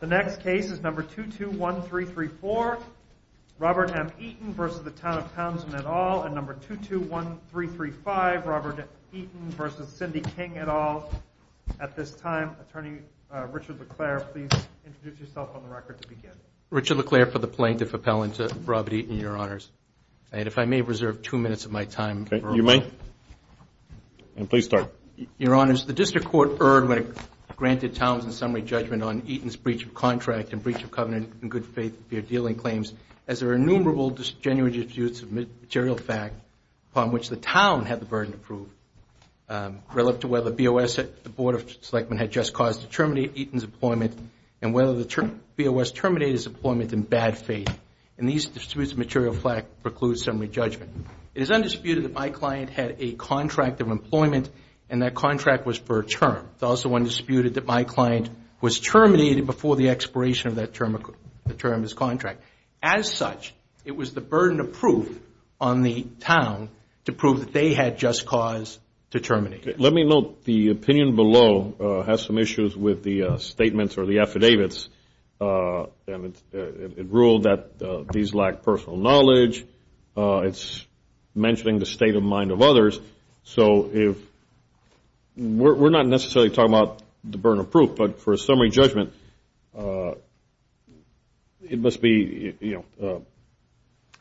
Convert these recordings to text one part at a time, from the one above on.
The next case is number 221334, Robert M. Eaton v. Town of Townsend, et al., and number 221335, Robert Eaton v. Cindy King, et al. At this time, Attorney Richard LeClaire, please introduce yourself on the record to begin. Richard LeClaire for the Plaintiff Appellant to Robert Eaton, Your Honors. And if I may reserve two minutes of my time. You may. And please start. Your Honors, the District Court erred when it granted Townsend's summary judgment on Eaton's breach of contract and breach of covenant in good faith to appear dealing claims as there are innumerable disingenuous disputes of material fact upon which the Town had the burden to prove relative to whether BOS, the Board of Selectmen, had just caused to terminate Eaton's employment and whether the BOS terminated his employment in bad faith. And these disputes of material fact preclude summary judgment. It is undisputed that my client had a contract of employment and that contract was for a term. It's also undisputed that my client was terminated before the expiration of that term of his contract. As such, it was the burden of proof on the Town to prove that they had just cause to terminate him. Let me note the opinion below has some issues with the statements or the affidavits. And it ruled that these lack personal knowledge. It's mentioning the state of mind of others. So if we're not necessarily talking about the burden of proof, but for a summary judgment, it must be, you know,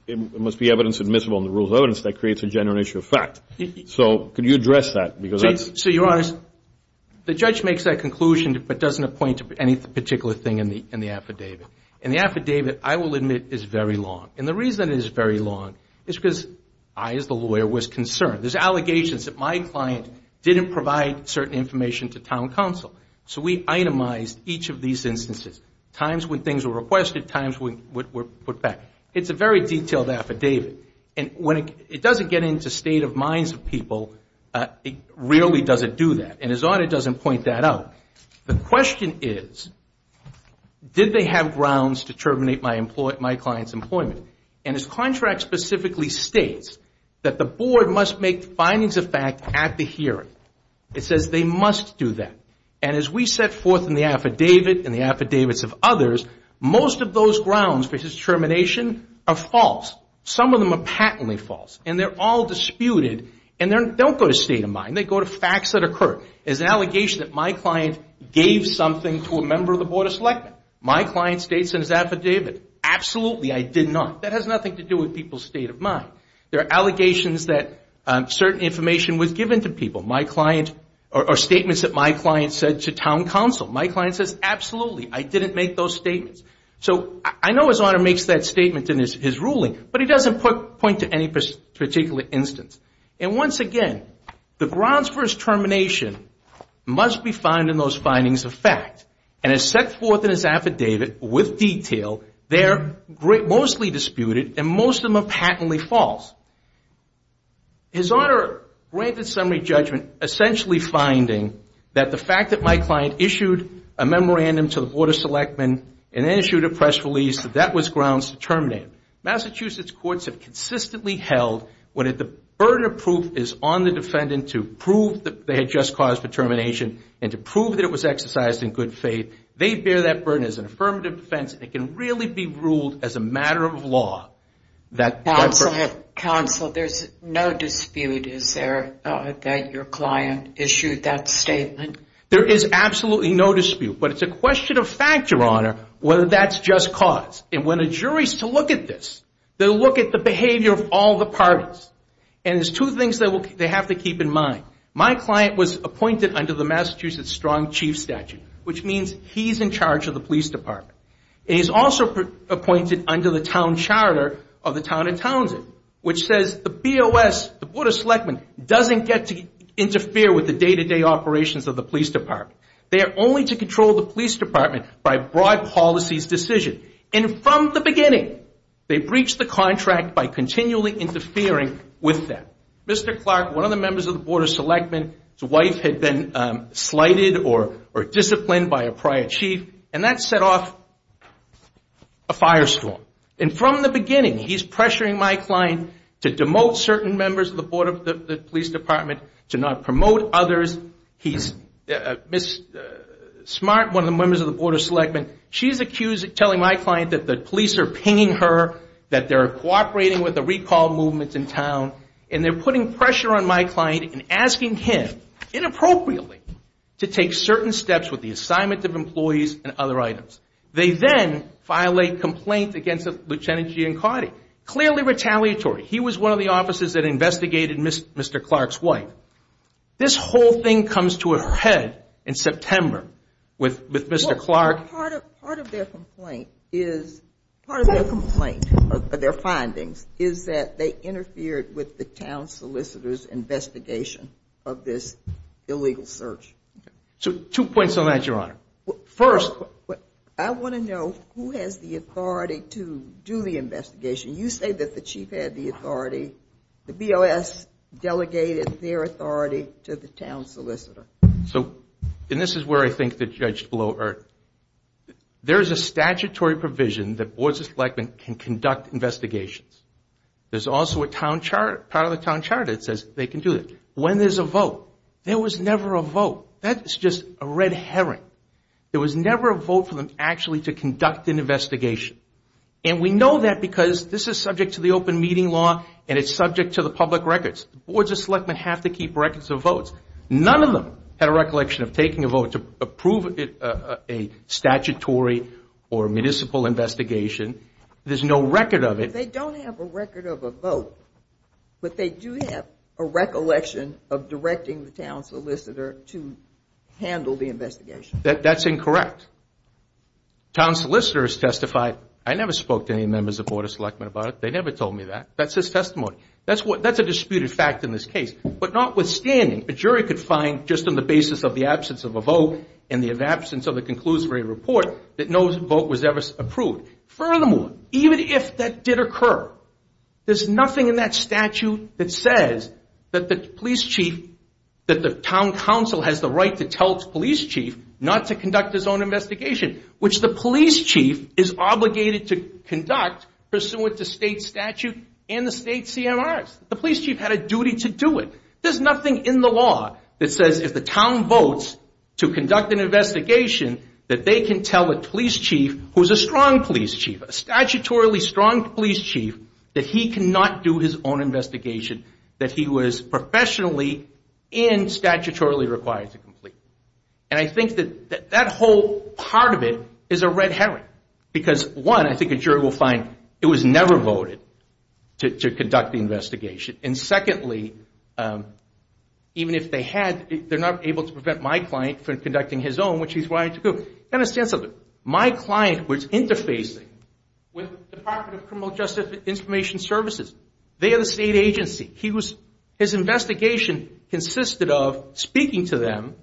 it must be evidence admissible in the rules of evidence that creates a general issue of fact. So could you address that? So you're honest. The judge makes that conclusion, but doesn't appoint any particular thing in the affidavit. And the affidavit, I will admit, is very long. And the reason it is very long is because I, as the lawyer, was concerned. There's allegations that my client didn't provide certain information to Town Council. So we itemized each of these instances, times when things were requested, times when were put back. It's a very detailed affidavit. It doesn't get into state of minds of people. It really doesn't do that. And his audit doesn't point that out. The question is, did they have grounds to terminate my client's employment? And his contract specifically states that the board must make findings of fact at the hearing. It says they must do that. And as we set forth in the affidavit and the affidavits of others, most of those grounds for his termination are false. Some of them are patently false. And they're all disputed. And they don't go to state of mind. They go to facts that occur. There's an allegation that my client gave something to a member of the Board of Selectmen. My client states in his affidavit, absolutely, I did not. That has nothing to do with people's state of mind. There are allegations that certain information was given to people. My client or statements that my client said to Town Council. My client says, absolutely, I didn't make those statements. So I know His Honor makes that statement in his ruling. But he doesn't point to any particular instance. And once again, the grounds for his termination must be found in those findings of fact. And as set forth in his affidavit with detail, they're mostly disputed. And most of them are patently false. His Honor granted summary judgment, essentially finding that the fact that my client issued a memorandum to the Board of Selectmen and then issued a press release, that that was grounds to terminate him. Massachusetts courts have consistently held, when the burden of proof is on the defendant to prove that they had just caused the termination and to prove that it was exercised in good faith, they bear that burden as an affirmative defense and it can really be ruled as a matter of law. Counsel, there's no dispute, is there, that your client issued that statement? There is absolutely no dispute. But it's a question of fact, Your Honor, whether that's just cause. And when a jury is to look at this, they'll look at the behavior of all the parties. And there's two things they have to keep in mind. My client was appointed under the Massachusetts strong chief statute, which means he's in charge of the police department. And he's also appointed under the town charter of the town of Townsend, which says the BOS, the Board of Selectmen, doesn't get to interfere with the day-to-day operations of the police department. They are only to control the police department by broad policies decision. And from the beginning, they breached the contract by continually interfering with them. Mr. Clark, one of the members of the Board of Selectmen, his wife had been slighted or disciplined by a prior chief, and that set off a firestorm. And from the beginning, he's pressuring my client to demote certain members of the police department, to not promote others. Ms. Smart, one of the members of the Board of Selectmen, she's accused of telling my client that the police are pinging her, that they're cooperating with the recall movements in town, and they're putting pressure on my client and asking him, inappropriately, to take certain steps with the assignment of employees and other items. They then violate complaints against Lieutenant Giancardi, clearly retaliatory. He was one of the officers that investigated Mr. Clark's wife. This whole thing comes to a head in September with Mr. Clark. Part of their complaint, or their findings, is that they interfered with the town solicitor's investigation of this illegal search. Two points on that, Your Honor. First, I want to know who has the authority to do the investigation. You say that the chief had the authority. The BOS delegated their authority to the town solicitor. So, and this is where I think the judge below erred. There is a statutory provision that Boards of Selectmen can conduct investigations. There's also a town charter, part of the town charter that says they can do it. When there's a vote, there was never a vote. That's just a red herring. There was never a vote for them actually to conduct an investigation. And we know that because this is subject to the open meeting law, and it's subject to the public records. Boards of Selectmen have to keep records of votes. None of them had a recollection of taking a vote to approve a statutory or municipal investigation. There's no record of it. They don't have a record of a vote, but they do have a recollection of directing the town solicitor to handle the investigation. That's incorrect. Town solicitors testified. I never spoke to any members of Boards of Selectmen about it. They never told me that. That's his testimony. That's a disputed fact in this case. But notwithstanding, a jury could find just on the basis of the absence of a vote and the absence of a conclusory report that no vote was ever approved. Furthermore, even if that did occur, there's nothing in that statute that says that the police chief, that the town council has the right to tell the police chief not to conduct his own investigation, which the police chief is obligated to conduct pursuant to state statute and the state CMRs. The police chief had a duty to do it. There's nothing in the law that says if the town votes to conduct an investigation, that they can tell a police chief who is a strong police chief, a statutorily strong police chief, that he cannot do his own investigation, that he was professionally and statutorily required to complete. And I think that that whole part of it is a red herring. Because, one, I think a jury will find it was never voted to conduct the investigation. And secondly, even if they had, they're not able to prevent my client from conducting his own, which he's right to do. My client was interfacing with the Department of Criminal Justice Information Services. They are the state agency. His investigation consisted of speaking to them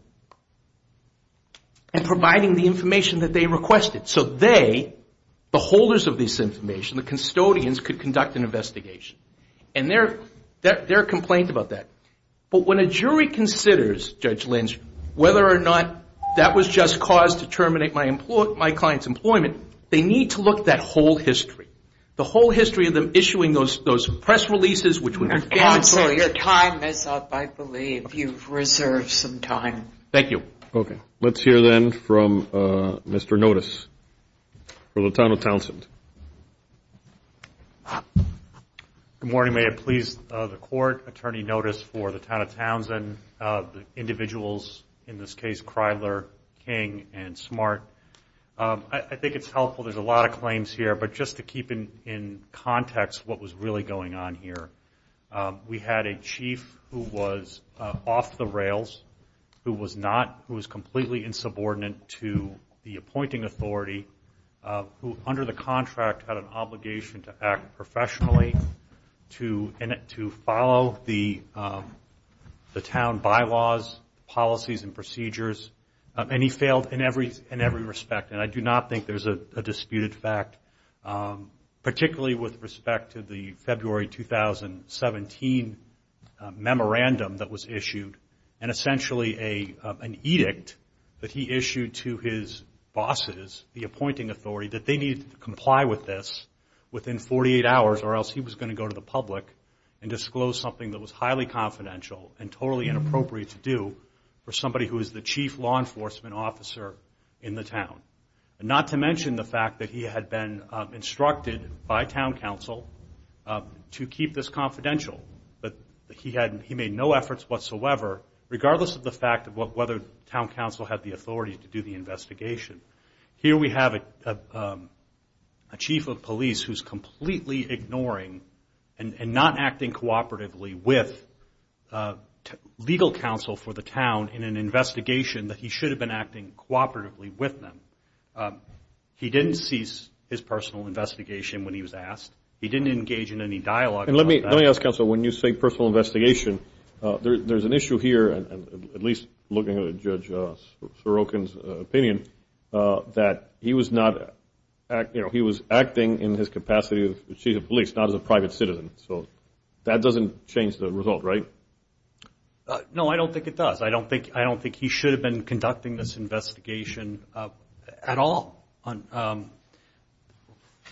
and providing the information that they requested. So they, the holders of this information, the custodians, could conduct an investigation. And they're complained about that. But when a jury considers, Judge Lindstrom, whether or not that was just cause to terminate my client's employment, they need to look at that whole history. The whole history of them issuing those press releases, which would be... Counsel, your time is up, I believe. You've reserved some time. Thank you. Okay. Let's hear, then, from Mr. Notice for the Town of Townsend. Good morning. May it please the Court, Attorney Notice for the Town of Townsend, the individuals, in this case, Kreidler, King, and Smart. I think it's helpful. There's a lot of claims here. But just to keep in context what was really going on here, we had a chief who was off the rails, who was not, who was completely insubordinate to the appointing authority, who, under the contract, had an obligation to act professionally, to follow the town bylaws, policies, and procedures. And he failed in every respect. And I do not think there's a disputed fact, particularly with respect to the February 2017 memorandum that was issued and essentially an edict that he issued to his bosses, the appointing authority, that they needed to comply with this within 48 hours or else he was going to go to the public and disclose something that was highly confidential and totally inappropriate to do for somebody who is the chief law enforcement officer in the town. And not to mention the fact that he had been instructed by town council to keep this confidential. But he made no efforts whatsoever, regardless of the fact of whether town council had the authority to do the investigation. Here we have a chief of police who's completely ignoring and not acting cooperatively with legal counsel for the town in an investigation that he should have been acting cooperatively with them. He didn't cease his personal investigation when he was asked. He didn't engage in any dialogue about that. And let me ask, counsel, when you say personal investigation, there's an issue here, at least looking at Judge Sorokin's opinion, that he was acting in his capacity as chief of police, not as a private citizen. So that doesn't change the result, right? No, I don't think it does. I don't think he should have been conducting this investigation at all.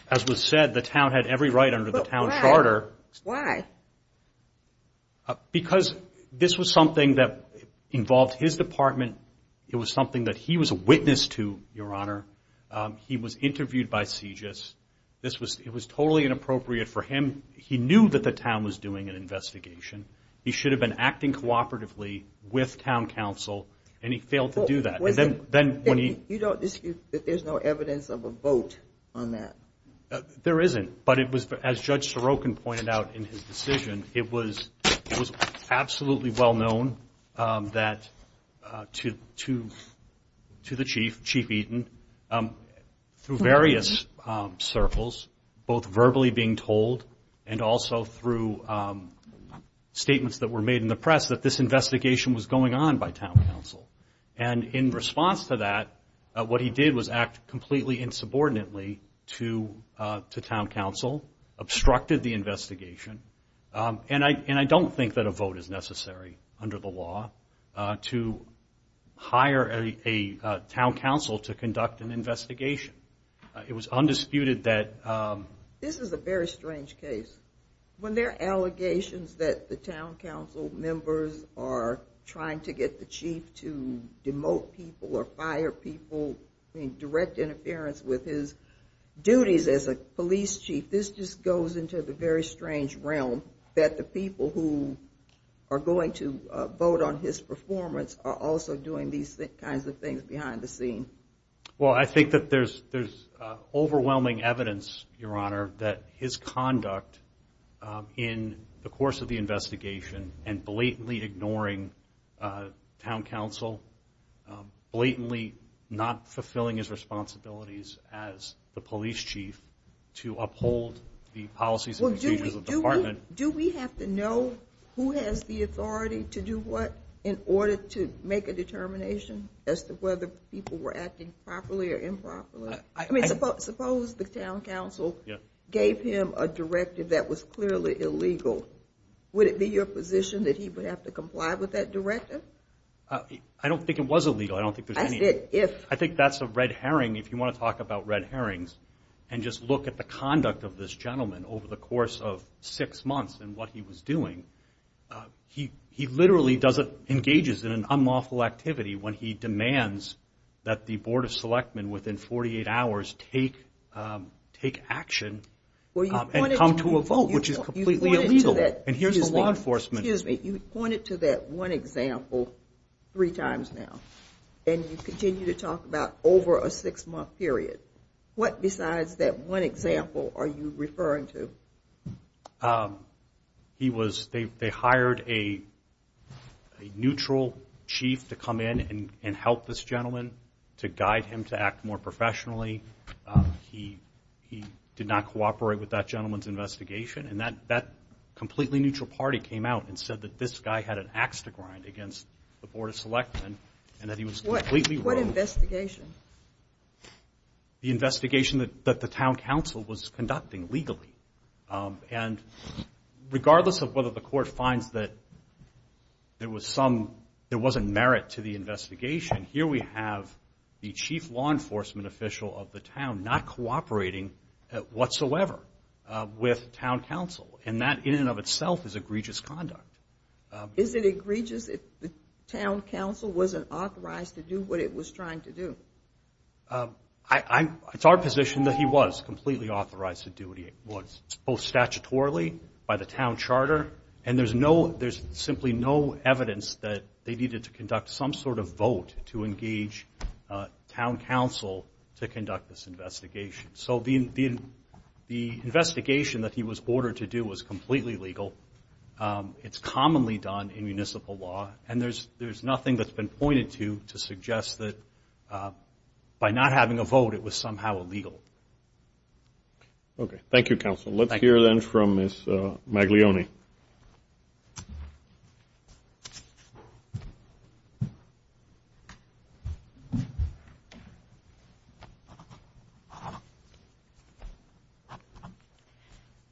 As was said, the town had every right under the town charter. Why? Because this was something that involved his department. It was something that he was a witness to, Your Honor. He was interviewed by CJIS. It was totally inappropriate for him. He knew that the town was doing an investigation. He should have been acting cooperatively with town council, and he failed to do that. You don't dispute that there's no evidence of a vote on that? There isn't. But it was, as Judge Sorokin pointed out in his decision, it was absolutely well known to the chief, Chief Eaton, through various circles, both verbally being told and also through statements that were made in the press, that this investigation was going on by town council. And in response to that, what he did was act completely insubordinately to town council, obstructed the investigation. And I don't think that a vote is necessary under the law to hire a town council to conduct an investigation. It was undisputed that... This is a very strange case. When there are allegations that the town council members are trying to get the chief to demote people or fire people, direct interference with his duties as a police chief, this just goes into the very strange realm that the people who are going to vote on his performance are also doing these kinds of things behind the scene. Well, I think that there's overwhelming evidence, Your Honor, that his conduct in the course of the investigation and blatantly ignoring town council, blatantly not fulfilling his responsibilities as the police chief to uphold the policies and procedures of the department. Do we have to know who has the authority to do what in order to make a determination as to whether people were acting properly or improperly? I mean, suppose the town council gave him a directive that was clearly illegal. Would it be your position that he would have to comply with that directive? I don't think it was illegal. I don't think there's any... I said if... I think that's a red herring. If you want to talk about red herrings and just look at the conduct of this gentleman over the course of six months and what he was doing, he literally engages in an unlawful activity when he demands that the board of selectmen within 48 hours take action and come to a vote, which is completely illegal. And here's the law enforcement... three times now. And you continue to talk about over a six-month period. What besides that one example are you referring to? He was... They hired a neutral chief to come in and help this gentleman, to guide him to act more professionally. He did not cooperate with that gentleman's investigation. And that completely neutral party came out and said that this guy had an axe to grind against the board of selectmen and that he was completely wrong. What investigation? The investigation that the town council was conducting legally. And regardless of whether the court finds that there was some... there wasn't merit to the investigation, here we have the chief law enforcement official of the town not cooperating whatsoever with town council. And that, in and of itself, is egregious conduct. Is it egregious if the town council wasn't authorized to do what it was trying to do? It's our position that he was completely authorized to do what he was, both statutorily by the town charter, and there's simply no evidence that they needed to conduct some sort of vote to engage town council to conduct this investigation. So the investigation that he was ordered to do was completely legal. It's commonly done in municipal law, and there's nothing that's been pointed to to suggest that by not having a vote it was somehow illegal. Okay. Thank you, counsel. Let's hear then from Ms. Maglione. Ms. Maglione.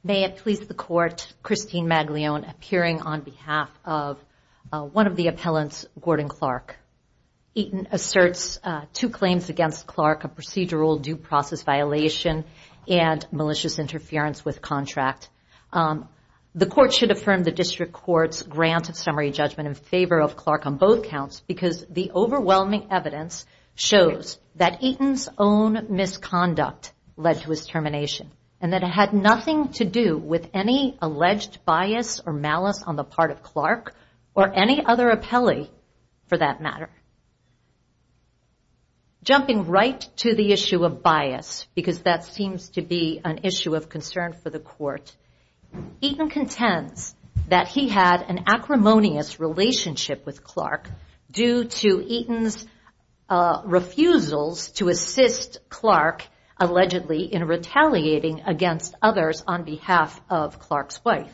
May it please the court, Christine Maglione, appearing on behalf of one of the appellants, Gordon Clark. Eaton asserts two claims against Clark, a procedural due process violation and malicious interference with contract. The court should affirm the district court's grant of summary judgment in favor of Clark on both counts because the overwhelming evidence shows that Eaton's own misconduct led to his termination and that it had nothing to do with any alleged bias or malice on the part of Clark or any other appellee for that matter. Jumping right to the issue of bias, because that seems to be an issue of concern for the court, Eaton contends that he had an acrimonious relationship with Clark due to Eaton's refusals to assist Clark allegedly in retaliating against others on behalf of Clark's wife.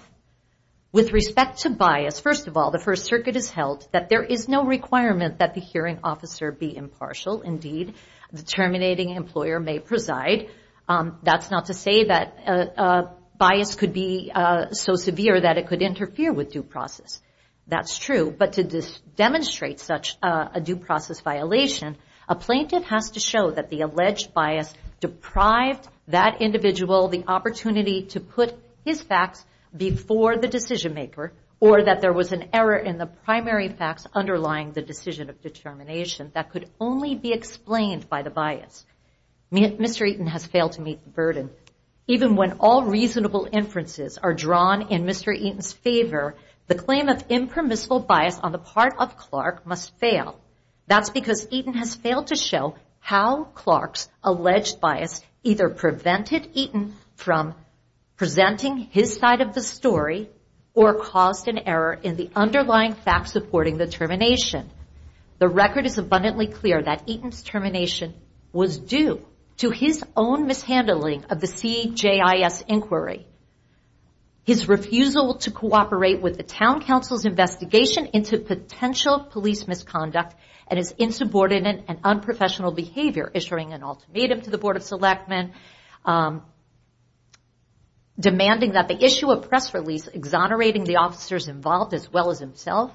With respect to bias, first of all, the First Circuit has held that there is no requirement that the hearing officer be impartial. Indeed, the terminating employer may preside. That's not to say that bias could be so severe that it could interfere with due process. That's true, but to demonstrate such a due process violation, a plaintiff has to show that the alleged bias deprived that individual the opportunity to put his facts before the decision maker or that there was an error in the primary facts underlying the decision of determination that could only be explained by the bias. Mr. Eaton has failed to meet the burden. Even when all reasonable inferences are drawn in Mr. Eaton's favor, the claim of impermissible bias on the part of Clark must fail. That's because Eaton has failed to show how Clark's alleged bias either prevented Eaton from presenting his side of the story or caused an error in the underlying facts supporting the termination. The record is abundantly clear that Eaton's termination was due to his own mishandling of the CJIS inquiry. His refusal to cooperate with the town council's investigation into potential police misconduct and his insubordinate and unprofessional behavior, issuing an ultimatum to the Board of Selectmen, demanding that they issue a press release exonerating the officers involved as well as himself,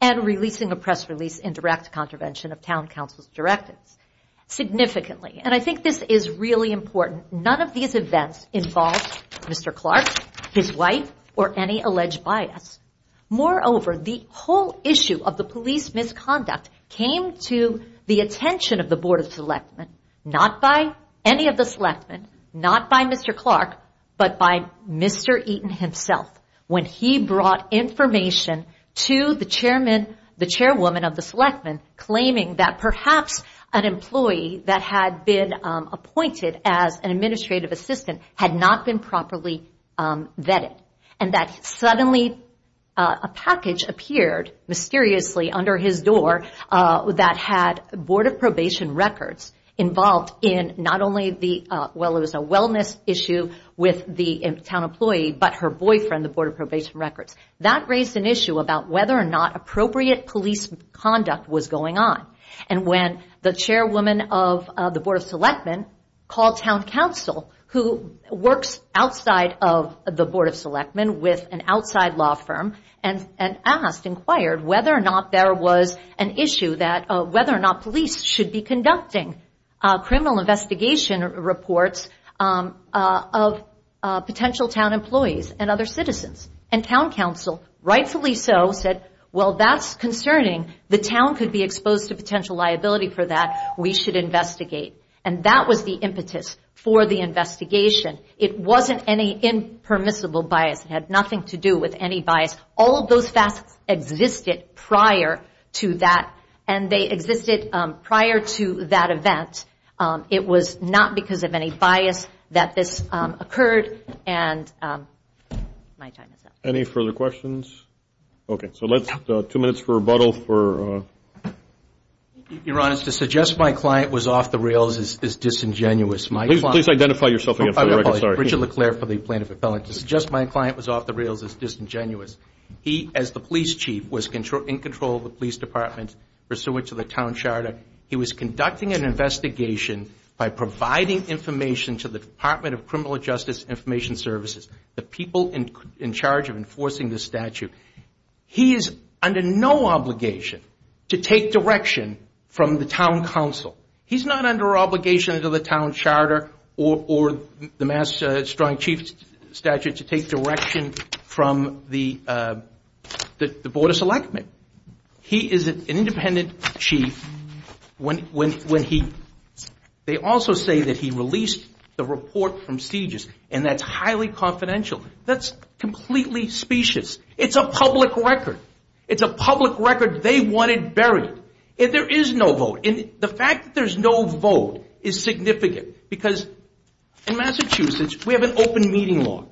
and releasing a press release in direct contravention of town council's directives. Significantly, and I think this is really important, none of these events involved Mr. Clark, his wife, or any alleged bias. Moreover, the whole issue of the police misconduct came to the attention of the Board of Selectmen, not by any of the Selectmen, not by Mr. Clark, but by Mr. Eaton himself, when he brought information to the chairwoman of the Selectmen claiming that perhaps an employee that had been appointed as an administrative assistant had not been properly vetted. And that suddenly a package appeared mysteriously under his door that had Board of Probation records involved in not only the, well it was a wellness issue with the town employee, but her boyfriend, the Board of Probation records. That raised an issue about whether or not appropriate police conduct was going on. And when the chairwoman of the Board of Selectmen called town council, who works outside of the Board of Selectmen with an outside law firm, and asked, inquired, whether or not there was an issue that, whether or not police should be conducting criminal investigation reports of potential town employees and other citizens. And town council, rightfully so, said, well that's concerning. The town could be exposed to potential liability for that. We should investigate. And that was the impetus for the investigation. It wasn't any impermissible bias. It had nothing to do with any bias. All of those facets existed prior to that, and they existed prior to that event. It was not because of any bias that this occurred. And my time is up. Any further questions? Okay, so let's, two minutes for rebuttal. Your Honor, to suggest my client was off the rails is disingenuous. Please identify yourself again for the record. Richard LeClair for the plaintiff appellant. To suggest my client was off the rails is disingenuous. He, as the police chief, was in control of the police department, pursuant to the town charter. He was conducting an investigation by providing information to the Department of Criminal Justice Information Services, the people in charge of enforcing this statute. He is under no obligation to take direction from the town council. He's not under obligation to the town charter or the Mass. Strong Chief Statute to take direction from the Board of Selectmen. He is an independent chief when he, they also say that he released the report from CJIS, and that's highly confidential. That's completely specious. It's a public record. It's a public record they wanted buried. And there is no vote. And the fact that there's no vote is significant because in Massachusetts, we have an open meeting law.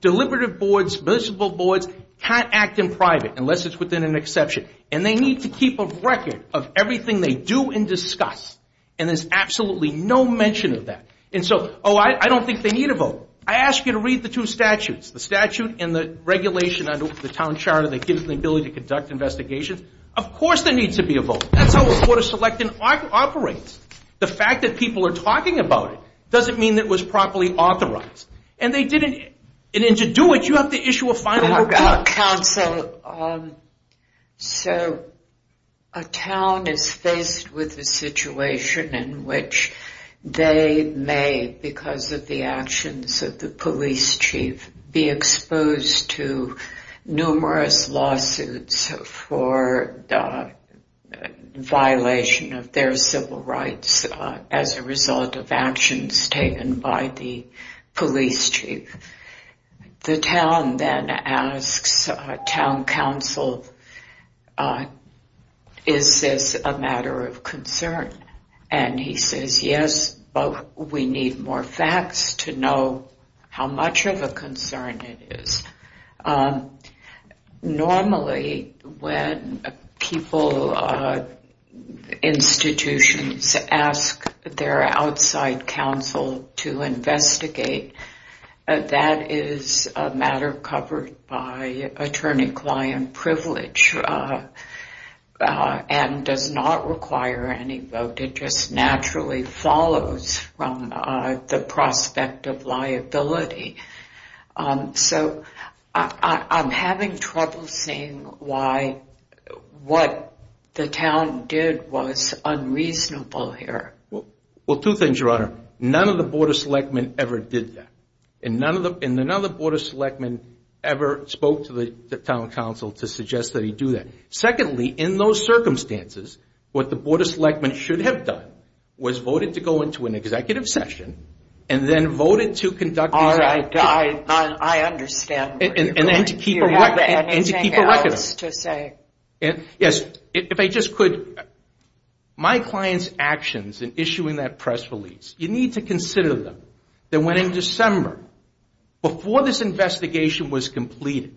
Deliberative boards, municipal boards can't act in private unless it's within an exception, and they need to keep a record of everything they do and discuss. And there's absolutely no mention of that. And so, oh, I don't think they need a vote. I ask you to read the two statutes, the statute and the regulation under the town charter that gives them the ability to conduct investigations. Of course there needs to be a vote. That's how the Board of Selectmen operates. The fact that people are talking about it doesn't mean it was properly authorized, and they didn't. And to do it, you have to issue a final report. Council, so a town is faced with a situation in which they may, because of the actions of the police chief, be exposed to numerous lawsuits for violation of their civil rights as a result of actions taken by the police chief. The town then asks town council, is this a matter of concern? And he says, yes, but we need more facts to know how much of a concern it is. Normally when people, institutions ask their outside council to investigate, that is a matter covered by attorney-client privilege and does not require any vote, it just naturally follows from the prospect of liability. So I'm having trouble seeing why what the town did was unreasonable here. None of the Board of Selectmen ever did that. And none of the Board of Selectmen ever spoke to the town council to suggest that he do that. Secondly, in those circumstances, what the Board of Selectmen should have done was voted to go into an executive session and then voted to conduct these investigations. I understand. Do you have anything else to say? Yes, if I just could, my client's actions in issuing that press release, you need to consider them. That when in December, before this investigation was completed,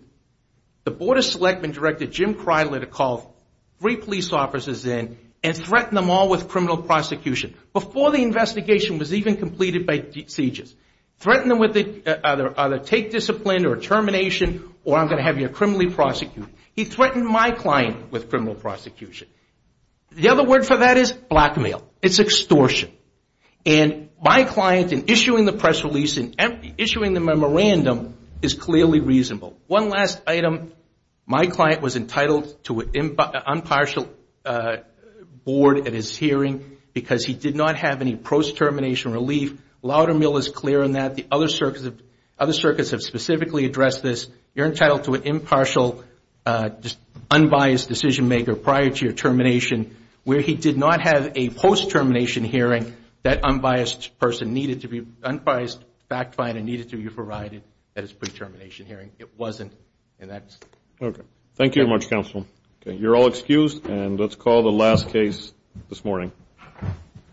the Board of Selectmen directed Jim Cridler to call three police officers in and threaten them all with criminal prosecution. Before the investigation was even completed by CJIS. Threaten them with either take discipline or termination or I'm going to have you criminally prosecuted. He threatened my client with criminal prosecution. The other word for that is blackmail. It's extortion. And my client in issuing the press release and issuing the memorandum is clearly reasonable. One last item, my client was entitled to an impartial board at his hearing because he did not have any post-termination relief. Loudermill is clear on that. The other circuits have specifically addressed this. You're entitled to an impartial unbiased decision-maker prior to your termination where he did not have a post-termination hearing. That unbiased person needed to be unbiased, fact-fined, and needed to be provided at his pre-termination hearing. It wasn't, and that's it. Okay. Thank you very much, counsel.